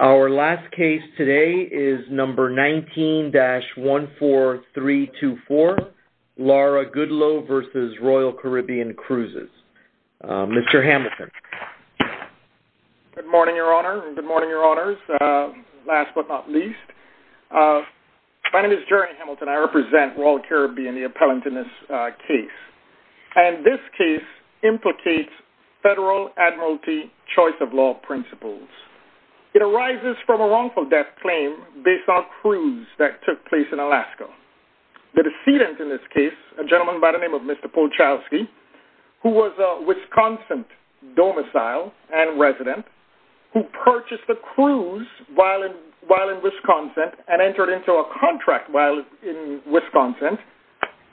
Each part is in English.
Our last case today is number 19-14324, Laura Goodloe v. Royal Caribbean Cruises. Mr. Hamilton. Good morning, Your Honor. Good morning, Your Honors. Last but not least, my name is Jerry Hamilton. I represent Royal Caribbean, the appellant in this case. And this case implicates federal admiralty choice of law principles. It arises from a wrongful death claim based on a cruise that took place in Alaska. The decedent in this case, a gentleman by the name of Mr. Polchowski, who was a Wisconsin domicile and resident, who purchased a cruise while in Wisconsin and entered into a contract while in Wisconsin,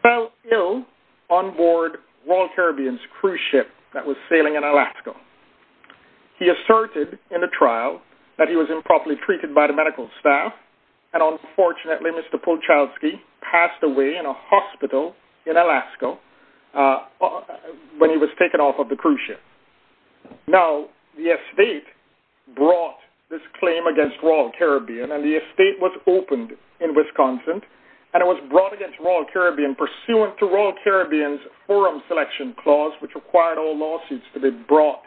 fell ill on board Royal Caribbean's cruise ship that was sailing in Alaska. He asserted in a trial that he was improperly treated by the medical staff, and unfortunately Mr. Polchowski passed away in a hospital in Alaska when he was taken off of the cruise ship. Now, the estate brought this claim against Royal Caribbean, and the estate was opened in Wisconsin, and it was brought against Royal Caribbean pursuant to Royal Caribbean's forum selection clause, which required all lawsuits to be brought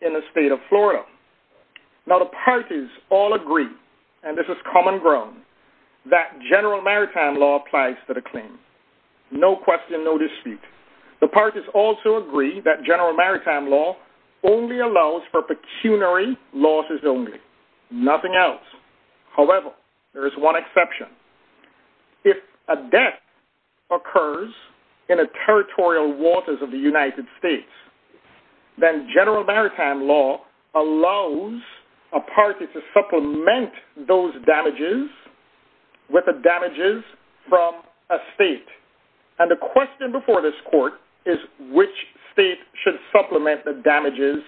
in the state of Florida. Now, the parties all agree, and this is common ground, that general maritime law applies to the claim. No question, no dispute. The parties also agree that general maritime law only allows for pecuniary losses only. Nothing else. However, there is one exception. If a death occurs in a territorial waters of the United States, then general maritime law allows a party to supplement those damages with the damages from a state. And the question before this court is which state should supplement the damages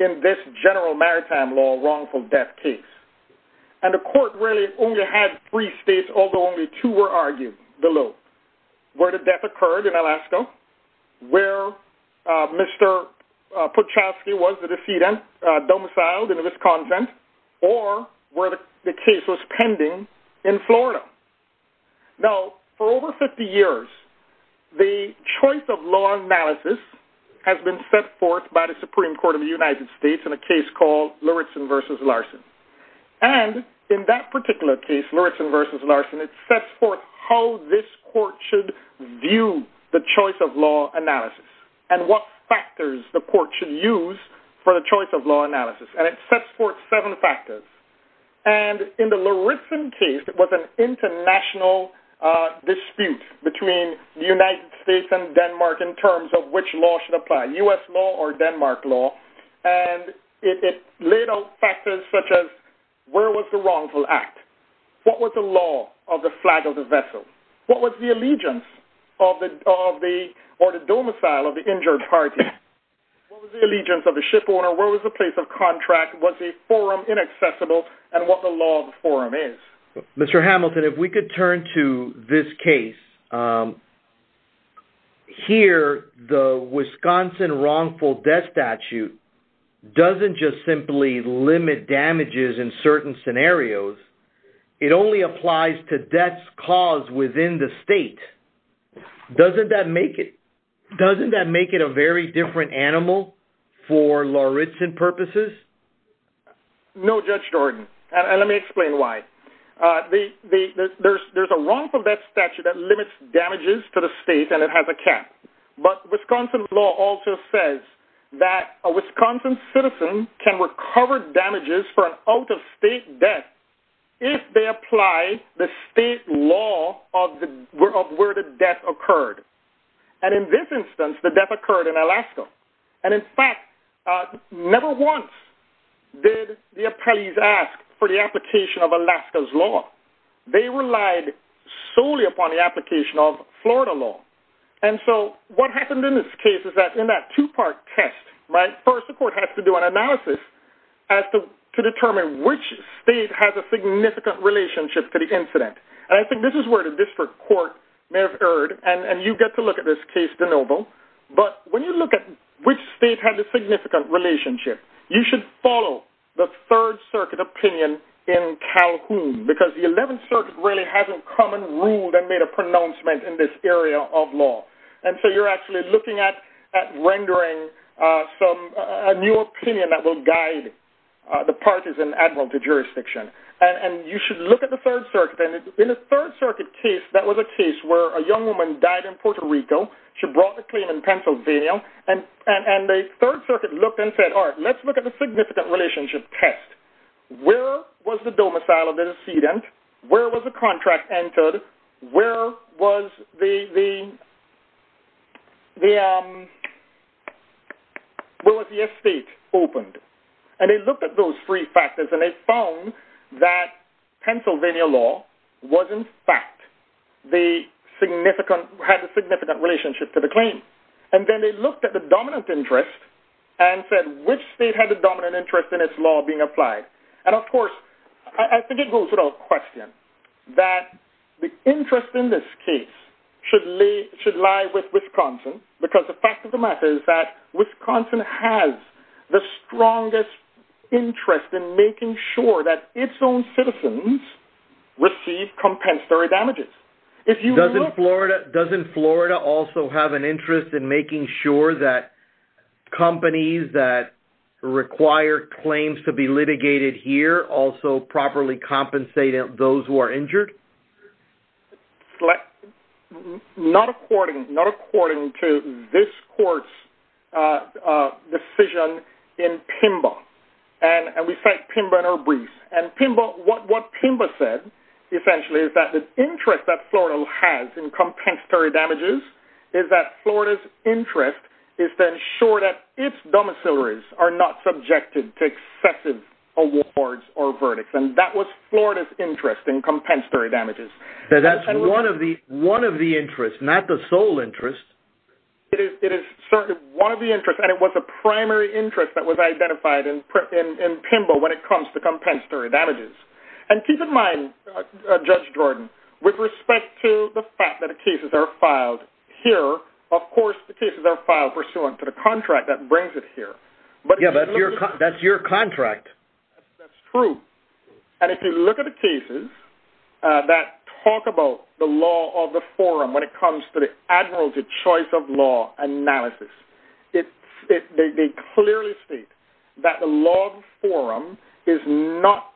in this general maritime law wrongful death case. And the court really only had three states, although only two were argued below, where the death occurred in Alaska, where Mr. Polchowski was the defendant, domiciled in Wisconsin, or where the case was pending in Florida. Now, for over 50 years, the choice of law analysis has been set forth by the Supreme Court of the United States in a case called Luritzen v. Larson. And in that particular case, Luritzen v. Larson, it sets forth how this court should view the choice of law analysis and what factors the court should use for the choice of law analysis. And it sets forth seven factors. And in the Luritzen case, it was an international dispute between the United States and Denmark in terms of which law should apply, U.S. law or Denmark law. And it laid out factors such as where was the wrongful act, what was the law of the flag of the vessel, what was the allegiance of the domicile of the injured party, what was the allegiance of the shipowner, where was the place of contract, what's a forum inaccessible, and what the law of the forum is. Mr. Hamilton, if we could turn to this case. Here, the Wisconsin wrongful death statute doesn't just simply limit damages in certain scenarios. It only applies to deaths caused within the state. Doesn't that make it a very different animal for Luritzen purposes? No, Judge Jordan, and let me explain why. There's a wrongful death statute that limits damages to the state and it has a cap. But Wisconsin law also says that a Wisconsin citizen can recover damages for an out-of-state death if they apply the state law of where the death occurred. And in this instance, the death occurred in Alaska. And in fact, never once did the appellees ask for the application of Alaska's law. They relied solely upon the application of Florida law. And so what happened in this case is that in that two-part test, right, first the court has to do an analysis to determine which state has a significant relationship to the incident. And I think this is where the district court may have erred, and you get to look at this case, DeNoble. But when you look at which state has a significant relationship, you should follow the 3rd Circuit opinion in Calhoun because the 11th Circuit really hasn't come and ruled and made a pronouncement in this area of law. And so you're actually looking at rendering a new opinion that will guide the parties in the admiralty jurisdiction. And you should look at the 3rd Circuit. And in the 3rd Circuit case, that was a case where a young woman died in Puerto Rico. She brought the claim in Pennsylvania, and the 3rd Circuit looked and said, all right, let's look at the significant relationship test. Where was the domicile of the decedent? Where was the contract entered? Where was the estate opened? And they looked at those three factors, and they found that Pennsylvania law was, in fact, had a significant relationship to the claim. And then they looked at the dominant interest and said, which state had the dominant interest in its law being applied? And, of course, I think it goes without question that the interest in this case should lie with Wisconsin because the fact of the matter is that Wisconsin has the strongest interest in making sure that its own citizens receive compensatory damages. Doesn't Florida also have an interest in making sure that companies that require claims to be litigated here also properly compensate those who are injured? Not according to this court's decision in PIMBA. What PIMBA said, essentially, is that the interest that Florida has in compensatory damages is that Florida's interest is to ensure that its domicilaries are not subjected to excessive awards or verdicts, and that was Florida's interest in compensatory damages. That's one of the interests, not the sole interest. It is certainly one of the interests, and it was a primary interest that was identified in PIMBA when it comes to compensatory damages. And keep in mind, Judge Jordan, with respect to the fact that cases are filed here, of course the cases are filed pursuant to the contract that brings it here. Yes, but that's your contract. That's true. And if you look at the cases that talk about the law of the forum when it comes to the admiralty choice of law analysis, they clearly state that the law of the forum is not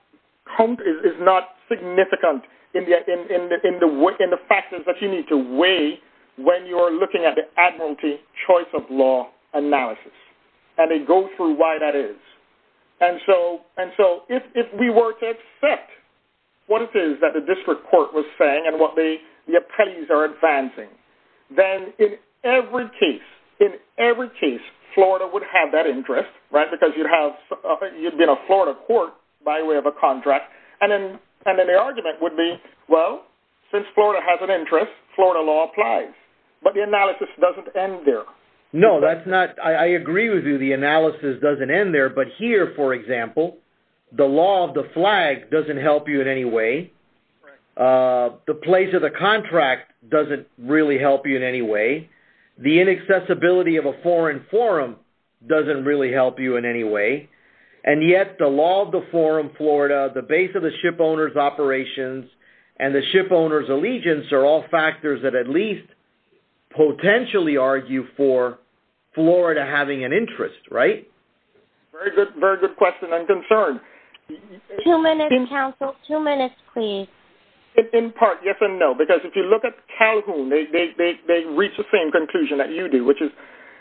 significant in the factors that you need to weigh when you are looking at the admiralty choice of law analysis. And they go through why that is. And so if we were to accept what it is that the district court was saying and what the appellees are advancing, then in every case, in every case, Florida would have that interest, right? Because you'd be in a Florida court by way of a contract. And then the argument would be, well, since Florida has an interest, Florida law applies. But the analysis doesn't end there. No, I agree with you. The analysis doesn't end there. But here, for example, the law of the flag doesn't help you in any way. The place of the contract doesn't really help you in any way. The inaccessibility of a foreign forum doesn't really help you in any way. And yet the law of the forum Florida, the base of the ship owner's operations, and the ship owner's allegiance are all factors that at least potentially argue for Florida having an interest, right? Very good question. I'm concerned. Two minutes, counsel. Two minutes, please. In part, yes and no. Because if you look at Calhoun, they reach the same conclusion that you do, which is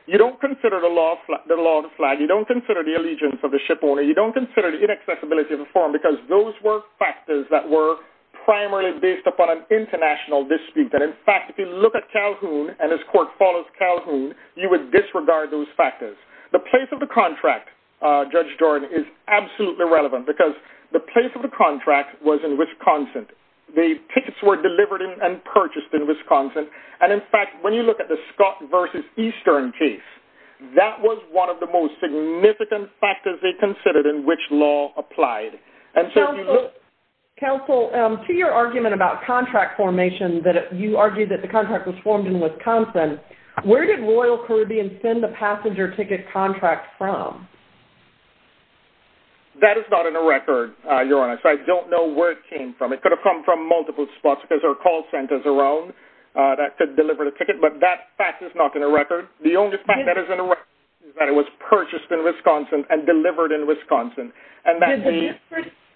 you don't consider the law of the flag, you don't consider the allegiance of the ship owner, you don't consider the inaccessibility of the forum because those were factors that were primarily based upon an international dispute. And, in fact, if you look at Calhoun and his court follows Calhoun, you would disregard those factors. The place of the contract, Judge Jordan, is absolutely relevant because the place of the contract was in Wisconsin. The tickets were delivered and purchased in Wisconsin. And, in fact, when you look at the Scott v. Eastern case, that was one of the most significant factors they considered in which law applied. Counsel, to your argument about contract formation, that you argued that the contract was formed in Wisconsin, where did Royal Caribbean send the passenger ticket contract from? That is not in the record, Your Honor. So I don't know where it came from. It could have come from multiple spots because there are call centers around that could deliver the ticket, but that fact is not in the record. The only fact that is in the record is that it was purchased in Wisconsin and delivered in Wisconsin.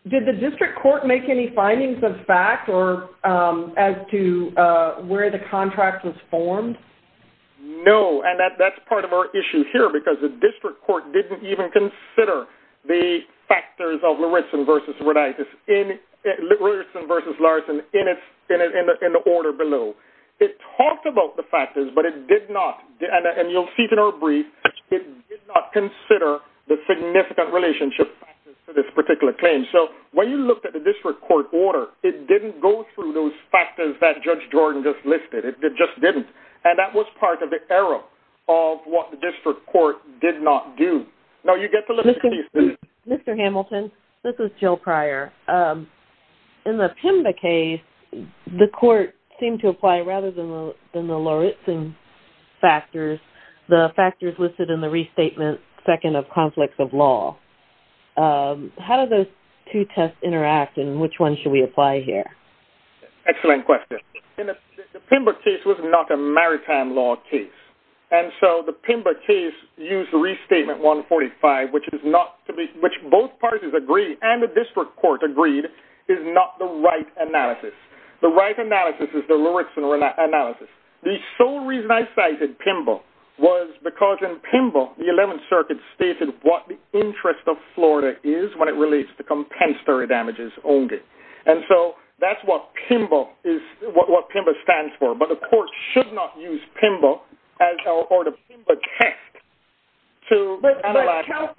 Did the district court make any findings of fact as to where the contract was formed? No, and that's part of our issue here because the district court didn't even consider the factors of Lauritsen v. Larson in the order below. It talked about the factors, but it did not, and you'll see it in our brief, it did not consider the significant relationship factors to this particular claim. So when you looked at the district court order, it didn't go through those factors that Judge Jordan just listed. It just didn't, and that was part of the error of what the district court did not do. Mr. Hamilton, this is Jill Pryor. In the Pimba case, the court seemed to apply, rather than the Lauritsen factors, the factors listed in the restatement second of conflicts of law. How do those two tests interact, and which one should we apply here? Excellent question. In the Pimba case, it was not a maritime law case, and so the Pimba case used the restatement 145, which both parties agreed, and the district court agreed, is not the right analysis. The right analysis is the Lauritsen analysis. The sole reason I cited Pimba was because in Pimba, the Eleventh Circuit stated what the interest of Florida is when it relates to compensatory damages only. And so that's what Pimba stands for. But the court should not use Pimba or the Pimba test to analyze that.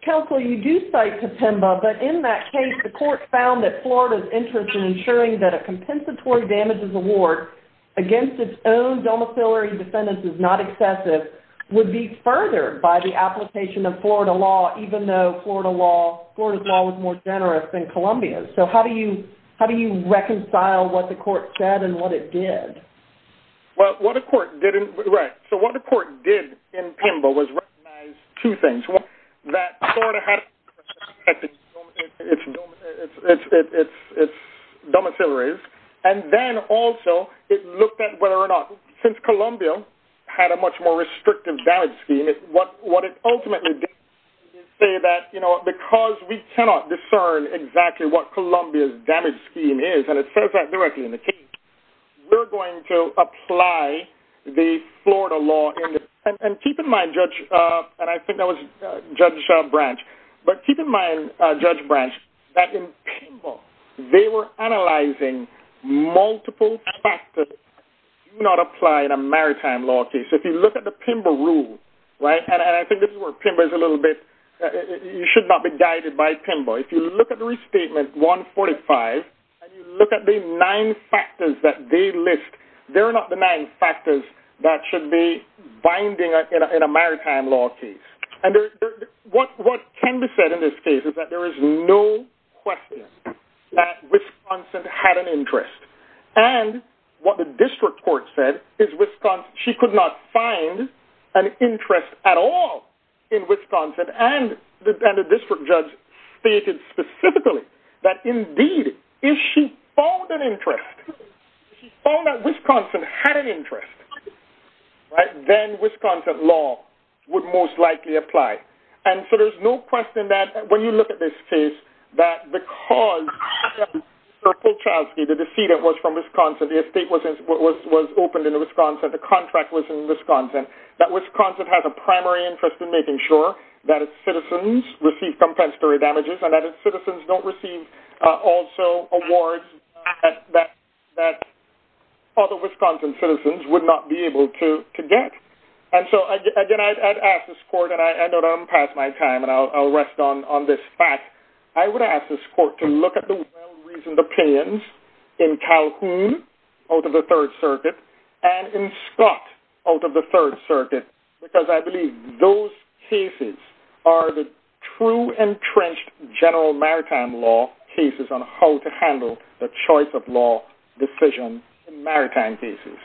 Counsel, you do cite the Pimba, but in that case, the court found that Florida's interest in ensuring that a compensatory damages award against its own domiciliary defendants is not excessive would be furthered by the application of Florida law, even though Florida's law was more generous than Columbia's. So how do you reconcile what the court said and what it did? Right. So what the court did in Pimba was recognize two things. One, that Florida has its domiciliaries, and then also it looked at whether or not, since Columbia had a much more restrictive damage scheme, what it ultimately did is say that, you know what, because we cannot discern exactly what Columbia's damage scheme is, and it says that directly in the case, we're going to apply the Florida law. And keep in mind, Judge, and I think that was Judge Branch, but keep in mind, Judge Branch, that in Pimba they were analyzing multiple factors. If you do not apply in a maritime law case, if you look at the Pimba rule, right, and I think this is where Pimba is a little bit, you should not be guided by Pimba. If you look at the restatement 145, and you look at the nine factors that they list, they're not the nine factors that should be binding in a maritime law case. And what can be said in this case is that there is no question that Wisconsin had an interest. And what the district court said is Wisconsin, she could not find an interest at all in Wisconsin. And the district judge stated specifically that, indeed, if she found an interest, if she found that Wisconsin had an interest, then Wisconsin law would most likely apply. And so there's no question that when you look at this case, that because Sirkulchowski, the decedent, was from Wisconsin, the estate was opened in Wisconsin, the contract was in Wisconsin, that Wisconsin has a primary interest in making sure that its citizens receive compensatory damages and that its citizens don't receive also awards that other Wisconsin citizens would not be able to get. And so, again, I've asked this court, and I know I'm past my time, but I'll rest on this fact. I would ask this court to look at the well-reasoned opinions in Calhoun, out of the Third Circuit, and in Scott, out of the Third Circuit, because I believe those cases are the true entrenched general maritime law cases on how to handle the choice of law decision in maritime cases.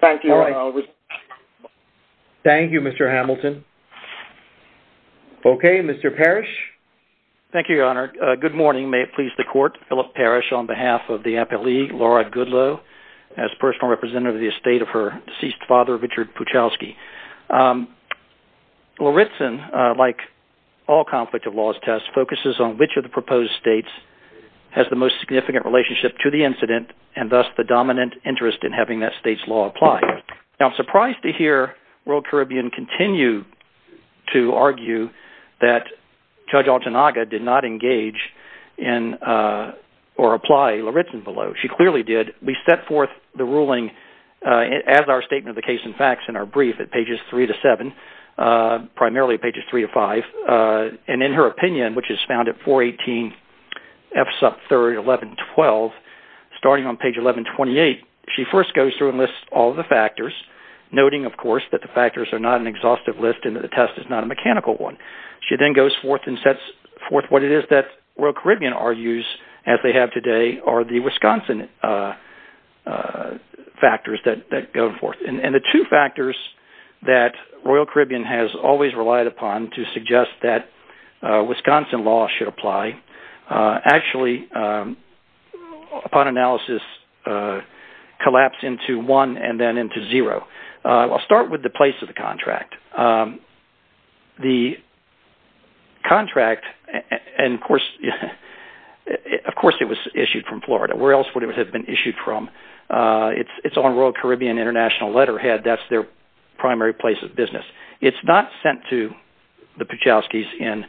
Thank you. All right. Thank you, Mr. Hamilton. Okay, Mr. Parrish. Thank you, Your Honor. Good morning. May it please the court. Philip Parrish on behalf of the appellee, Laura Goodloe, as personal representative of the estate of her deceased father, Richard Puchowski. Lawritson, like all conflict of laws tests, focuses on which of the proposed states has the most significant relationship to the incident, and thus the dominant interest in having that state's law applied. Now, I'm surprised to hear Royal Caribbean continue to argue that Judge Altanaga did not engage in or apply Lawritson below. She clearly did. We set forth the ruling as our statement of the case and facts in our brief at pages 3 to 7, primarily pages 3 to 5, and in her opinion, which is found at 418F sub 3, 11, 12, starting on page 11, 28, she first goes through and lists all the factors, noting, of course, that the factors are not an exhaustive list and that the test is not a mechanical one. She then goes forth and sets forth what it is that Royal Caribbean argues, as they have today, are the Wisconsin factors that go forth. And the two factors that Royal Caribbean has always relied upon to suggest that Wisconsin law should apply actually, upon analysis, collapse into one and then into zero. I'll start with the place of the contract. The contract, and, of course, it was issued from Florida. Where else would it have been issued from? It's on Royal Caribbean International letterhead. That's their primary place of business. It's not sent to the Puchowskis in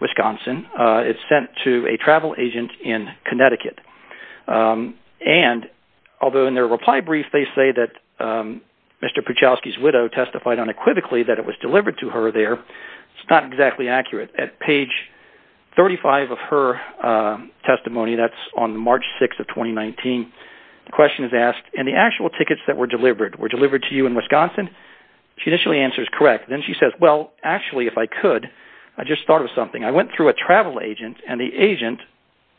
Wisconsin. It's sent to a travel agent in Connecticut. And, although in their reply brief they say that Mr. Puchowski's widow testified unequivocally that it was delivered to her there, it's not exactly accurate. At page 35 of her testimony, that's on March 6 of 2019, the question is asked, and the actual tickets that were delivered, were delivered to you in Wisconsin? She initially answers correct. Then she says, well, actually, if I could, I just thought of something. I went through a travel agent, and the agent,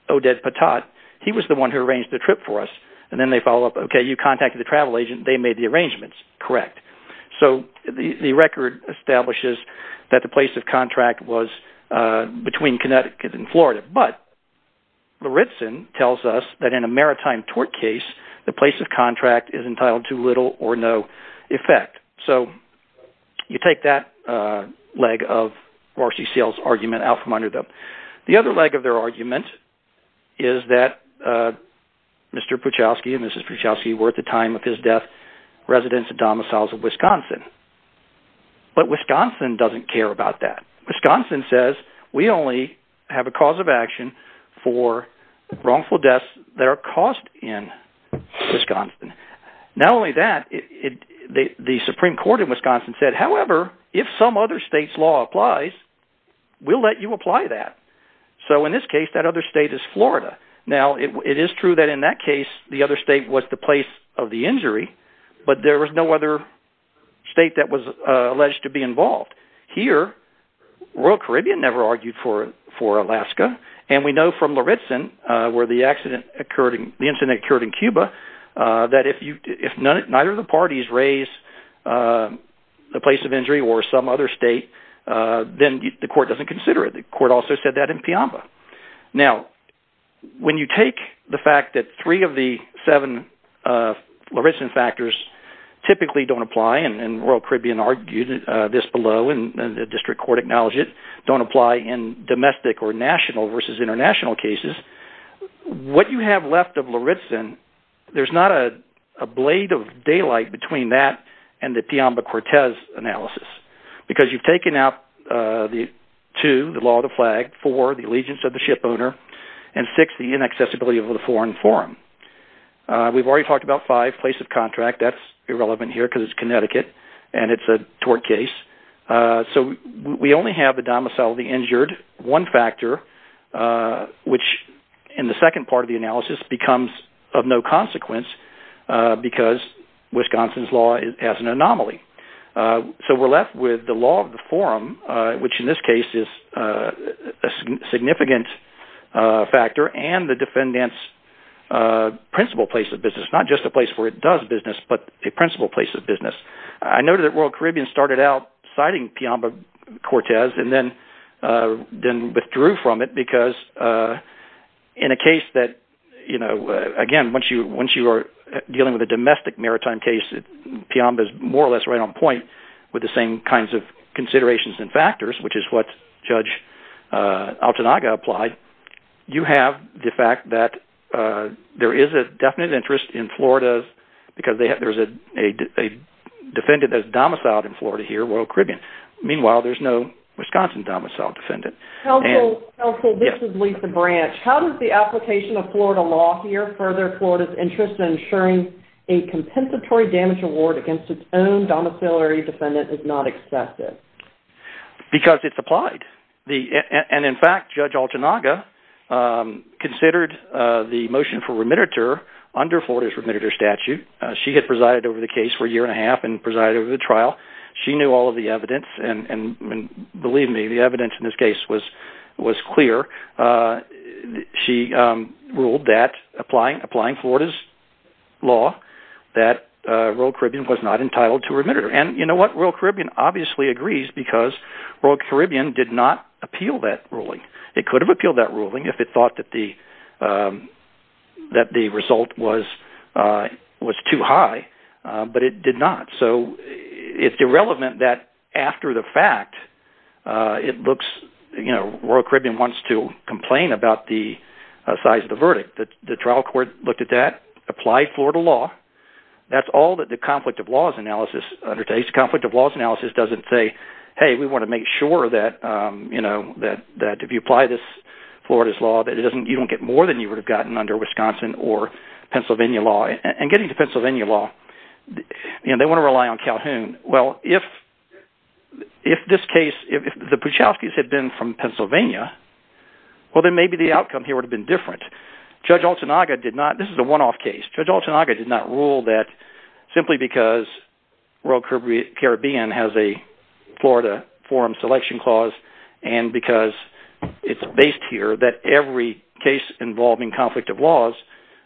Oded Patat, he was the one who arranged the trip for us. And then they follow up, okay, you contacted the travel agent. They made the arrangements. Correct. So the record establishes that the place of contract was between Connecticut and Florida, but Luritsen tells us that in a maritime tort case, the place of contract is entitled to little or no effect. So you take that leg of RCCL's argument out from under them. The other leg of their argument is that Mr. Puchowski and Mrs. Puchowski were, at the time of his death, residents and domiciles of Wisconsin. But Wisconsin doesn't care about that. Wisconsin says we only have a cause of action for wrongful deaths that are caused in Wisconsin. Not only that, the Supreme Court in Wisconsin said, however, if some other state's law applies, we'll let you apply that. So in this case, that other state is Florida. Now, it is true that in that case, the other state was the place of the injury, but there was no other state that was alleged to be involved. Here, Royal Caribbean never argued for Alaska, and we know from Luritsen where the incident occurred in Cuba, that if neither of the parties raise the place of injury or some other state, then the court doesn't consider it. The court also said that in Piamba. Now, when you take the fact that three of the seven Luritsen factors typically don't apply, and Royal Caribbean argued this below, and the district court acknowledged it, don't apply in domestic or national versus international cases, what you have left of Luritsen, there's not a blade of daylight between that and the Piamba-Cortez analysis because you've taken out the two, the law of the flag, four, the allegiance of the shipowner, and six, the inaccessibility of the foreign forum. We've already talked about five, place of contract. That's irrelevant here because it's Connecticut, and it's a tort case. So we only have the domicile of the injured, one factor, which in the second part of the analysis becomes of no consequence because Wisconsin's law has an anomaly. So we're left with the law of the forum, which in this case is a significant factor, and the defendant's principal place of business, not just a place where it does business, but a principal place of business. I noted that Royal Caribbean started out citing Piamba-Cortez and then withdrew from it because in a case that, again, once you are dealing with a domestic maritime case, Piamba is more or less right on point with the same kinds of considerations and factors, which is what Judge Altanaga applied. You have the fact that there is a definite interest in Florida because there's a defendant that is domiciled in Florida here, Royal Caribbean. Meanwhile, there's no Wisconsin domicile defendant. Counsel, this is Lisa Branch. How does the application of Florida law here further Florida's interest in ensuring a compensatory damage award against its own domiciliary defendant is not excessive? Because it's applied. And, in fact, Judge Altanaga considered the motion for remittiture under Florida's remittiture statute. She had presided over the case for a year and a half and presided over the trial. She knew all of the evidence, and believe me, the evidence in this case was clear. She ruled that, applying Florida's law, that Royal Caribbean was not entitled to remittiture. And you know what? Royal Caribbean obviously agrees because Royal Caribbean did not appeal that ruling. It could have appealed that ruling if it thought that the result was too high, but it did not. So it's irrelevant that after the fact, it looks – Royal Caribbean wants to complain about the size of the verdict. The trial court looked at that, applied Florida law. That's all that the conflict of laws analysis undertakes. This conflict of laws analysis doesn't say, hey, we want to make sure that if you apply this Florida's law, that you don't get more than you would have gotten under Wisconsin or Pennsylvania law. And getting to Pennsylvania law, they want to rely on Calhoun. Well, if this case – if the Puchowskis had been from Pennsylvania, well, then maybe the outcome here would have been different. Judge Altanaga did not – this is a one-off case. Judge Altanaga did not rule that simply because Royal Caribbean has a Florida forum selection clause, and because it's based here that every case involving conflict of laws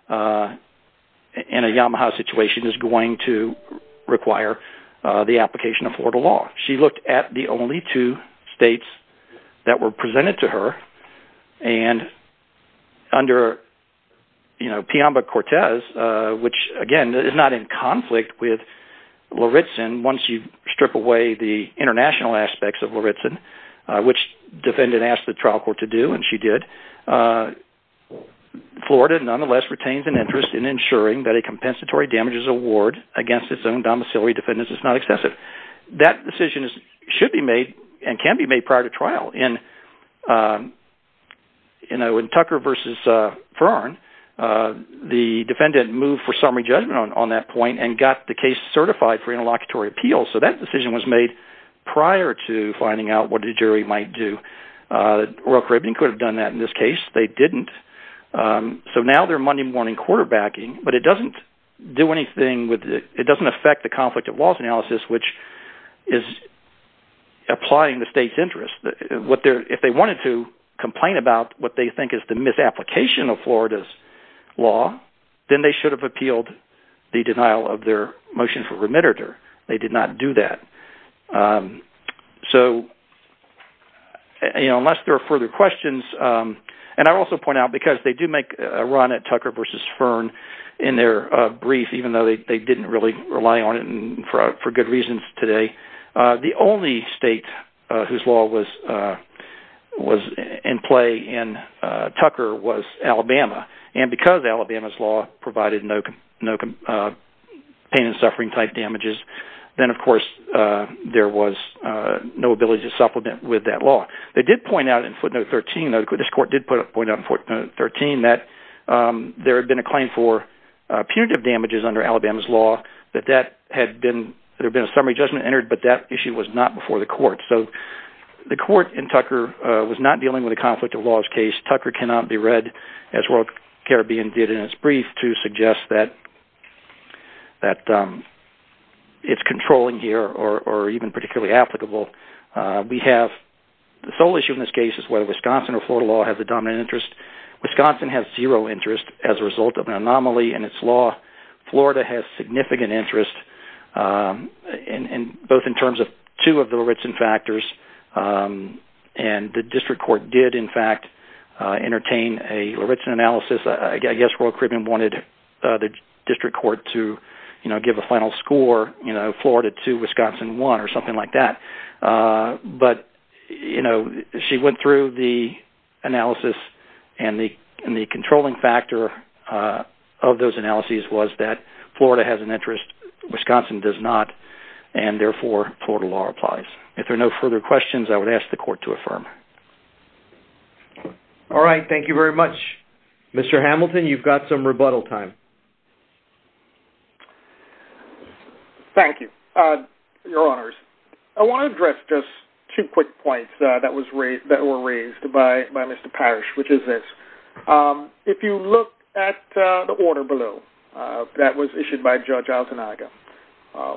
in a Yamaha situation is going to require the application of Florida law. She looked at the only two states that were presented to her. And under Piamba-Cortez, which again is not in conflict with Lauritzen once you strip away the international aspects of Lauritzen, which the defendant asked the trial court to do, and she did, Florida nonetheless retains an interest in ensuring that a compensatory damages award against its own domiciliary defendants is not excessive. That decision should be made and can be made prior to trial. In Tucker v. Ferron, the defendant moved for summary judgment on that point and got the case certified for interlocutory appeals. So that decision was made prior to finding out what the jury might do. Royal Caribbean could have done that in this case. They didn't. So now they're Monday morning quarterbacking, but it doesn't do anything. It doesn't affect the conflict of laws analysis, which is applying the state's interest. If they wanted to complain about what they think is the misapplication of Florida's law, then they should have appealed the denial of their motion for remitter. They did not do that. So unless there are further questions, and I also point out because they do make a run at Tucker v. Ferron in their brief, even though they didn't really rely on it for good reasons today, the only state whose law was in play in Tucker was Alabama, and because Alabama's law provided no pain and suffering type damages, then of course there was no ability to supplement with that law. They did point out in footnote 13, this court did point out in footnote 13, that there had been a claim for punitive damages under Alabama's law, that there had been a summary judgment entered, but that issue was not before the court. So the court in Tucker was not dealing with a conflict of laws case. Tucker cannot be read, as Royal Caribbean did in its brief, to suggest that it's controlling here or even particularly applicable. The sole issue in this case is whether Wisconsin or Florida law has a dominant interest. Wisconsin has zero interest as a result of an anomaly in its law. Florida has significant interest, both in terms of two of the Ritzen factors, and the district court did in fact entertain a Ritzen analysis. I guess Royal Caribbean wanted the district court to give a final score, Florida 2, Wisconsin 1, or something like that. But she went through the analysis, and the controlling factor of those analyses was that Florida has an interest, Wisconsin does not, and therefore Florida law applies. If there are no further questions, I would ask the court to affirm. All right, thank you very much. Mr. Hamilton, you've got some rebuttal time. Thank you, your honors. I want to address just two quick points that were raised by Mr. Parrish, which is this. If you look at the order below that was issued by Judge Altanaga,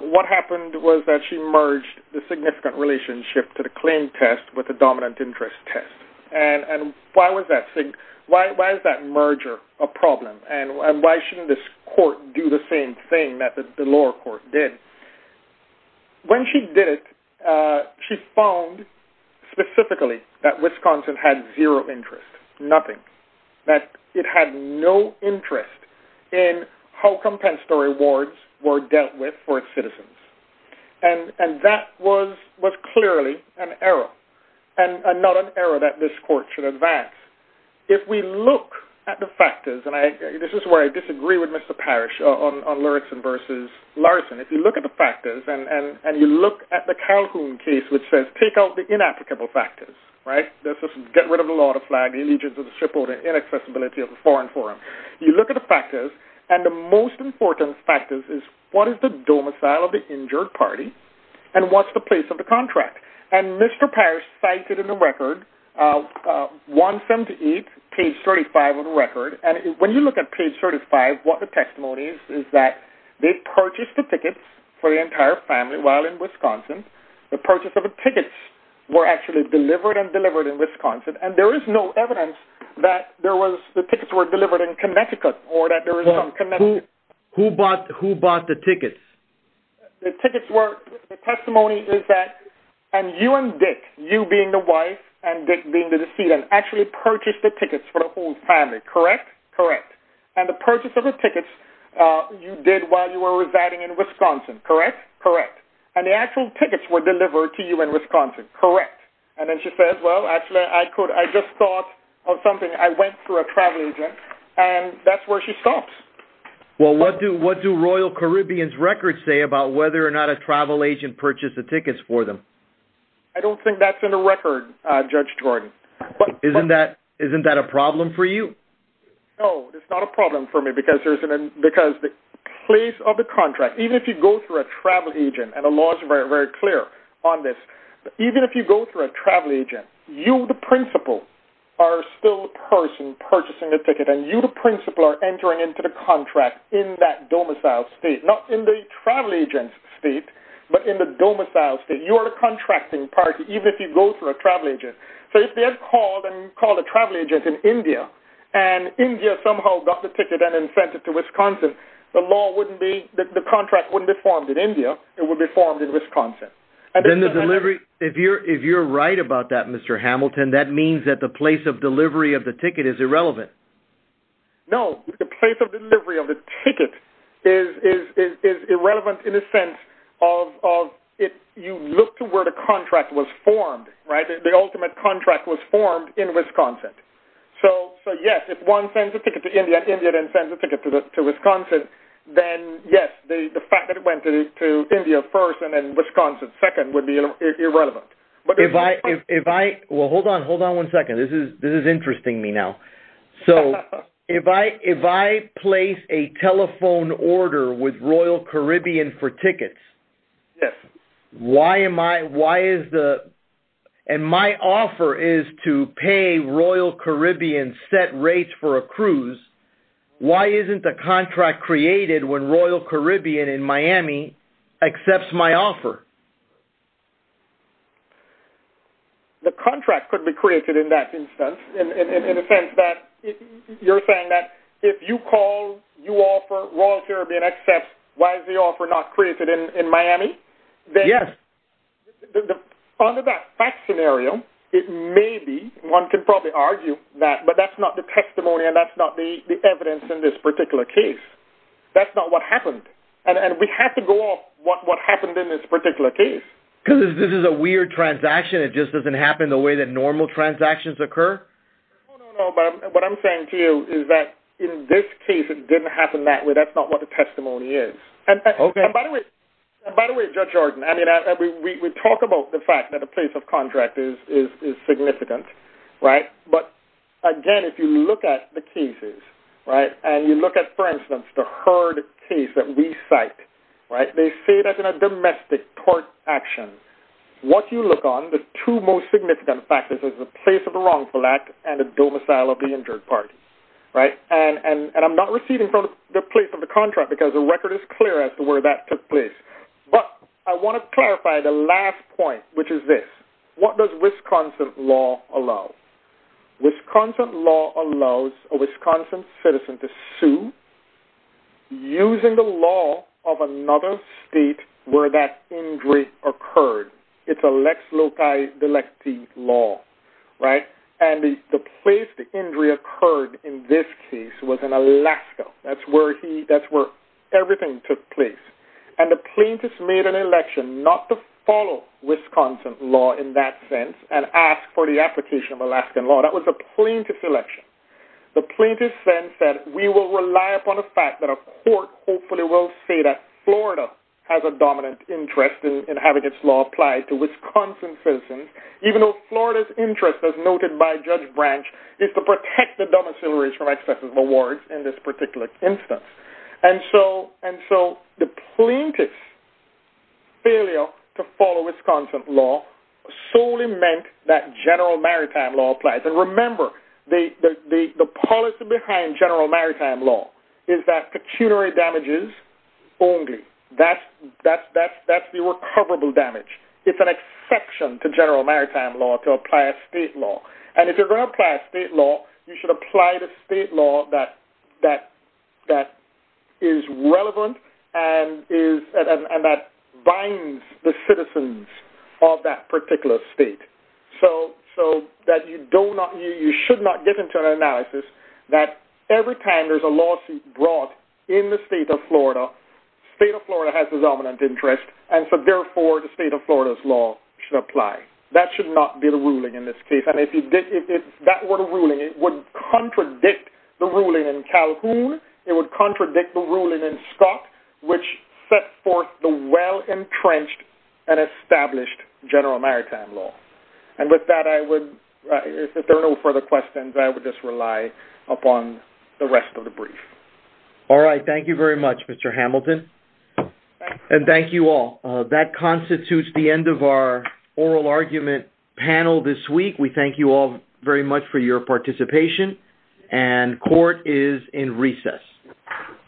what happened was that she merged the significant relationship to the claim test with the dominant interest test. Why was that merger a problem, and why shouldn't this court do the same thing that the lower court did? When she did it, she found specifically that Wisconsin had zero interest, nothing. That it had no interest in how compensatory awards were dealt with for its citizens. And that was clearly an error, and not an error that this court should advance. If we look at the factors, and this is where I disagree with Mr. Parrish on Larson versus Larson. If you look at the factors, and you look at the Calhoun case, which says take out the inapplicable factors, get rid of the law, the flag, the allegiance of the ship owner, inaccessibility of the foreign forum. You look at the factors, and the most important factor is what is the domicile of the injured party, and what's the place of the contract. And Mr. Parrish cited in the record 178, page 35 of the record. And when you look at page 35, what the testimony is, is that they purchased the tickets for the entire family while in Wisconsin. The purchase of the tickets were actually delivered and delivered in Wisconsin. And there is no evidence that the tickets were delivered in Connecticut, or that there was no Connecticut. Who bought the tickets? The tickets were, the testimony is that, and you and Dick, you being the wife, and Dick being the decedent, actually purchased the tickets for the whole family, correct? Correct. And the purchase of the tickets you did while you were residing in Wisconsin, correct? Correct. And the actual tickets were delivered to you in Wisconsin, correct? And then she said, well, actually, I just thought of something. I went through a travel agent, and that's where she stops. Well, what do Royal Caribbean's records say about whether or not a travel agent purchased the tickets for them? I don't think that's in the record, Judge Jordan. Isn't that a problem for you? No, it's not a problem for me, because the place of the contract, even if you go through a travel agent, and the law is very, very clear on this, even if you go through a travel agent, you, the principal, are still the person purchasing the ticket, and you, the principal, are entering into the contract in that domicile state, not in the travel agent's state, but in the domicile state. You are a contracting party, even if you go through a travel agent. So if they had called and called a travel agent in India, and India somehow got the ticket and then sent it to Wisconsin, the contract wouldn't be formed in India. It would be formed in Wisconsin. Then the delivery, if you're right about that, Mr. Hamilton, that means that the place of delivery of the ticket is irrelevant. No, the place of delivery of the ticket is irrelevant in the sense of you look to where the contract was formed, right? The ultimate contract was formed in Wisconsin. So, yes, if one sends a ticket to India and India then sends a ticket to Wisconsin, then, yes, the fact that it went to India first and then Wisconsin second would be irrelevant. If I, well, hold on one second. This is interesting me now. So if I place a telephone order with Royal Caribbean for tickets, Yes. and my offer is to pay Royal Caribbean set rates for a cruise, why isn't the contract created when Royal Caribbean in Miami accepts my offer? The contract could be created in that instance in the sense that you're saying that if you call, you offer, Royal Caribbean accepts, why is the offer not created in Miami? Yes. Under that fact scenario, it may be, one could probably argue that, but that's not the testimony and that's not the evidence in this particular case. That's not what happened. And we have to go off what happened in this particular case. Because this is a weird transaction. It just doesn't happen the way that normal transactions occur? No, no, no. What I'm saying to you is that in this case, it didn't happen that way. That's not what the testimony is. Okay. And by the way, Judge Jordan, I mean, we talk about the fact that a place of contract is significant, right? But again, if you look at the cases, right, and you look at, for instance, the Hurd case that we cite, right, they say that's in a domestic court action. What you look on, the two most significant factors is the place of the wrongful act and the domicile of the injured party, right? And I'm not receiving from the place of the contract because the record is clear as to where that took place. But I want to clarify the last point, which is this. What does Wisconsin law allow? Wisconsin law allows a Wisconsin citizen to sue using the law of another state where that injury occurred. It's a lex loci delecti law, right? And the place the injury occurred in this case was in Alaska. That's where everything took place. And the plaintiff made an election not to follow Wisconsin law in that sense and ask for the application of Alaskan law. That was a plaintiff's election. The plaintiff then said, we will rely upon the fact that a court hopefully will say that Florida has a dominant interest in having its law applied to Wisconsin citizens, even though Florida's interest, as noted by Judge Branch, is to protect the domicilaries from excessive awards in this particular instance. And so the plaintiff's failure to follow Wisconsin law solely meant that general maritime law applies. And remember, the policy behind general maritime law is that pecuniary damages only. That's the recoverable damage. It's an exception to general maritime law to apply a state law. And if you're going to apply a state law, you should apply the state law that is relevant and that binds the citizens of that particular state so that you should not get into an analysis that every time there's a lawsuit brought in the state of Florida, the state of Florida has this dominant interest and so therefore the state of Florida's law should apply. That should not be the ruling in this case. And if that were the ruling, it would contradict the ruling in Calhoun. It would contradict the ruling in Scott, which set forth the well-entrenched and established general maritime law. And with that, if there are no further questions, I would just rely upon the rest of the brief. All right. Thank you very much, Mr. Hamilton. And thank you all. That constitutes the end of our oral argument panel this week. We thank you all very much for your participation. And court is in recess.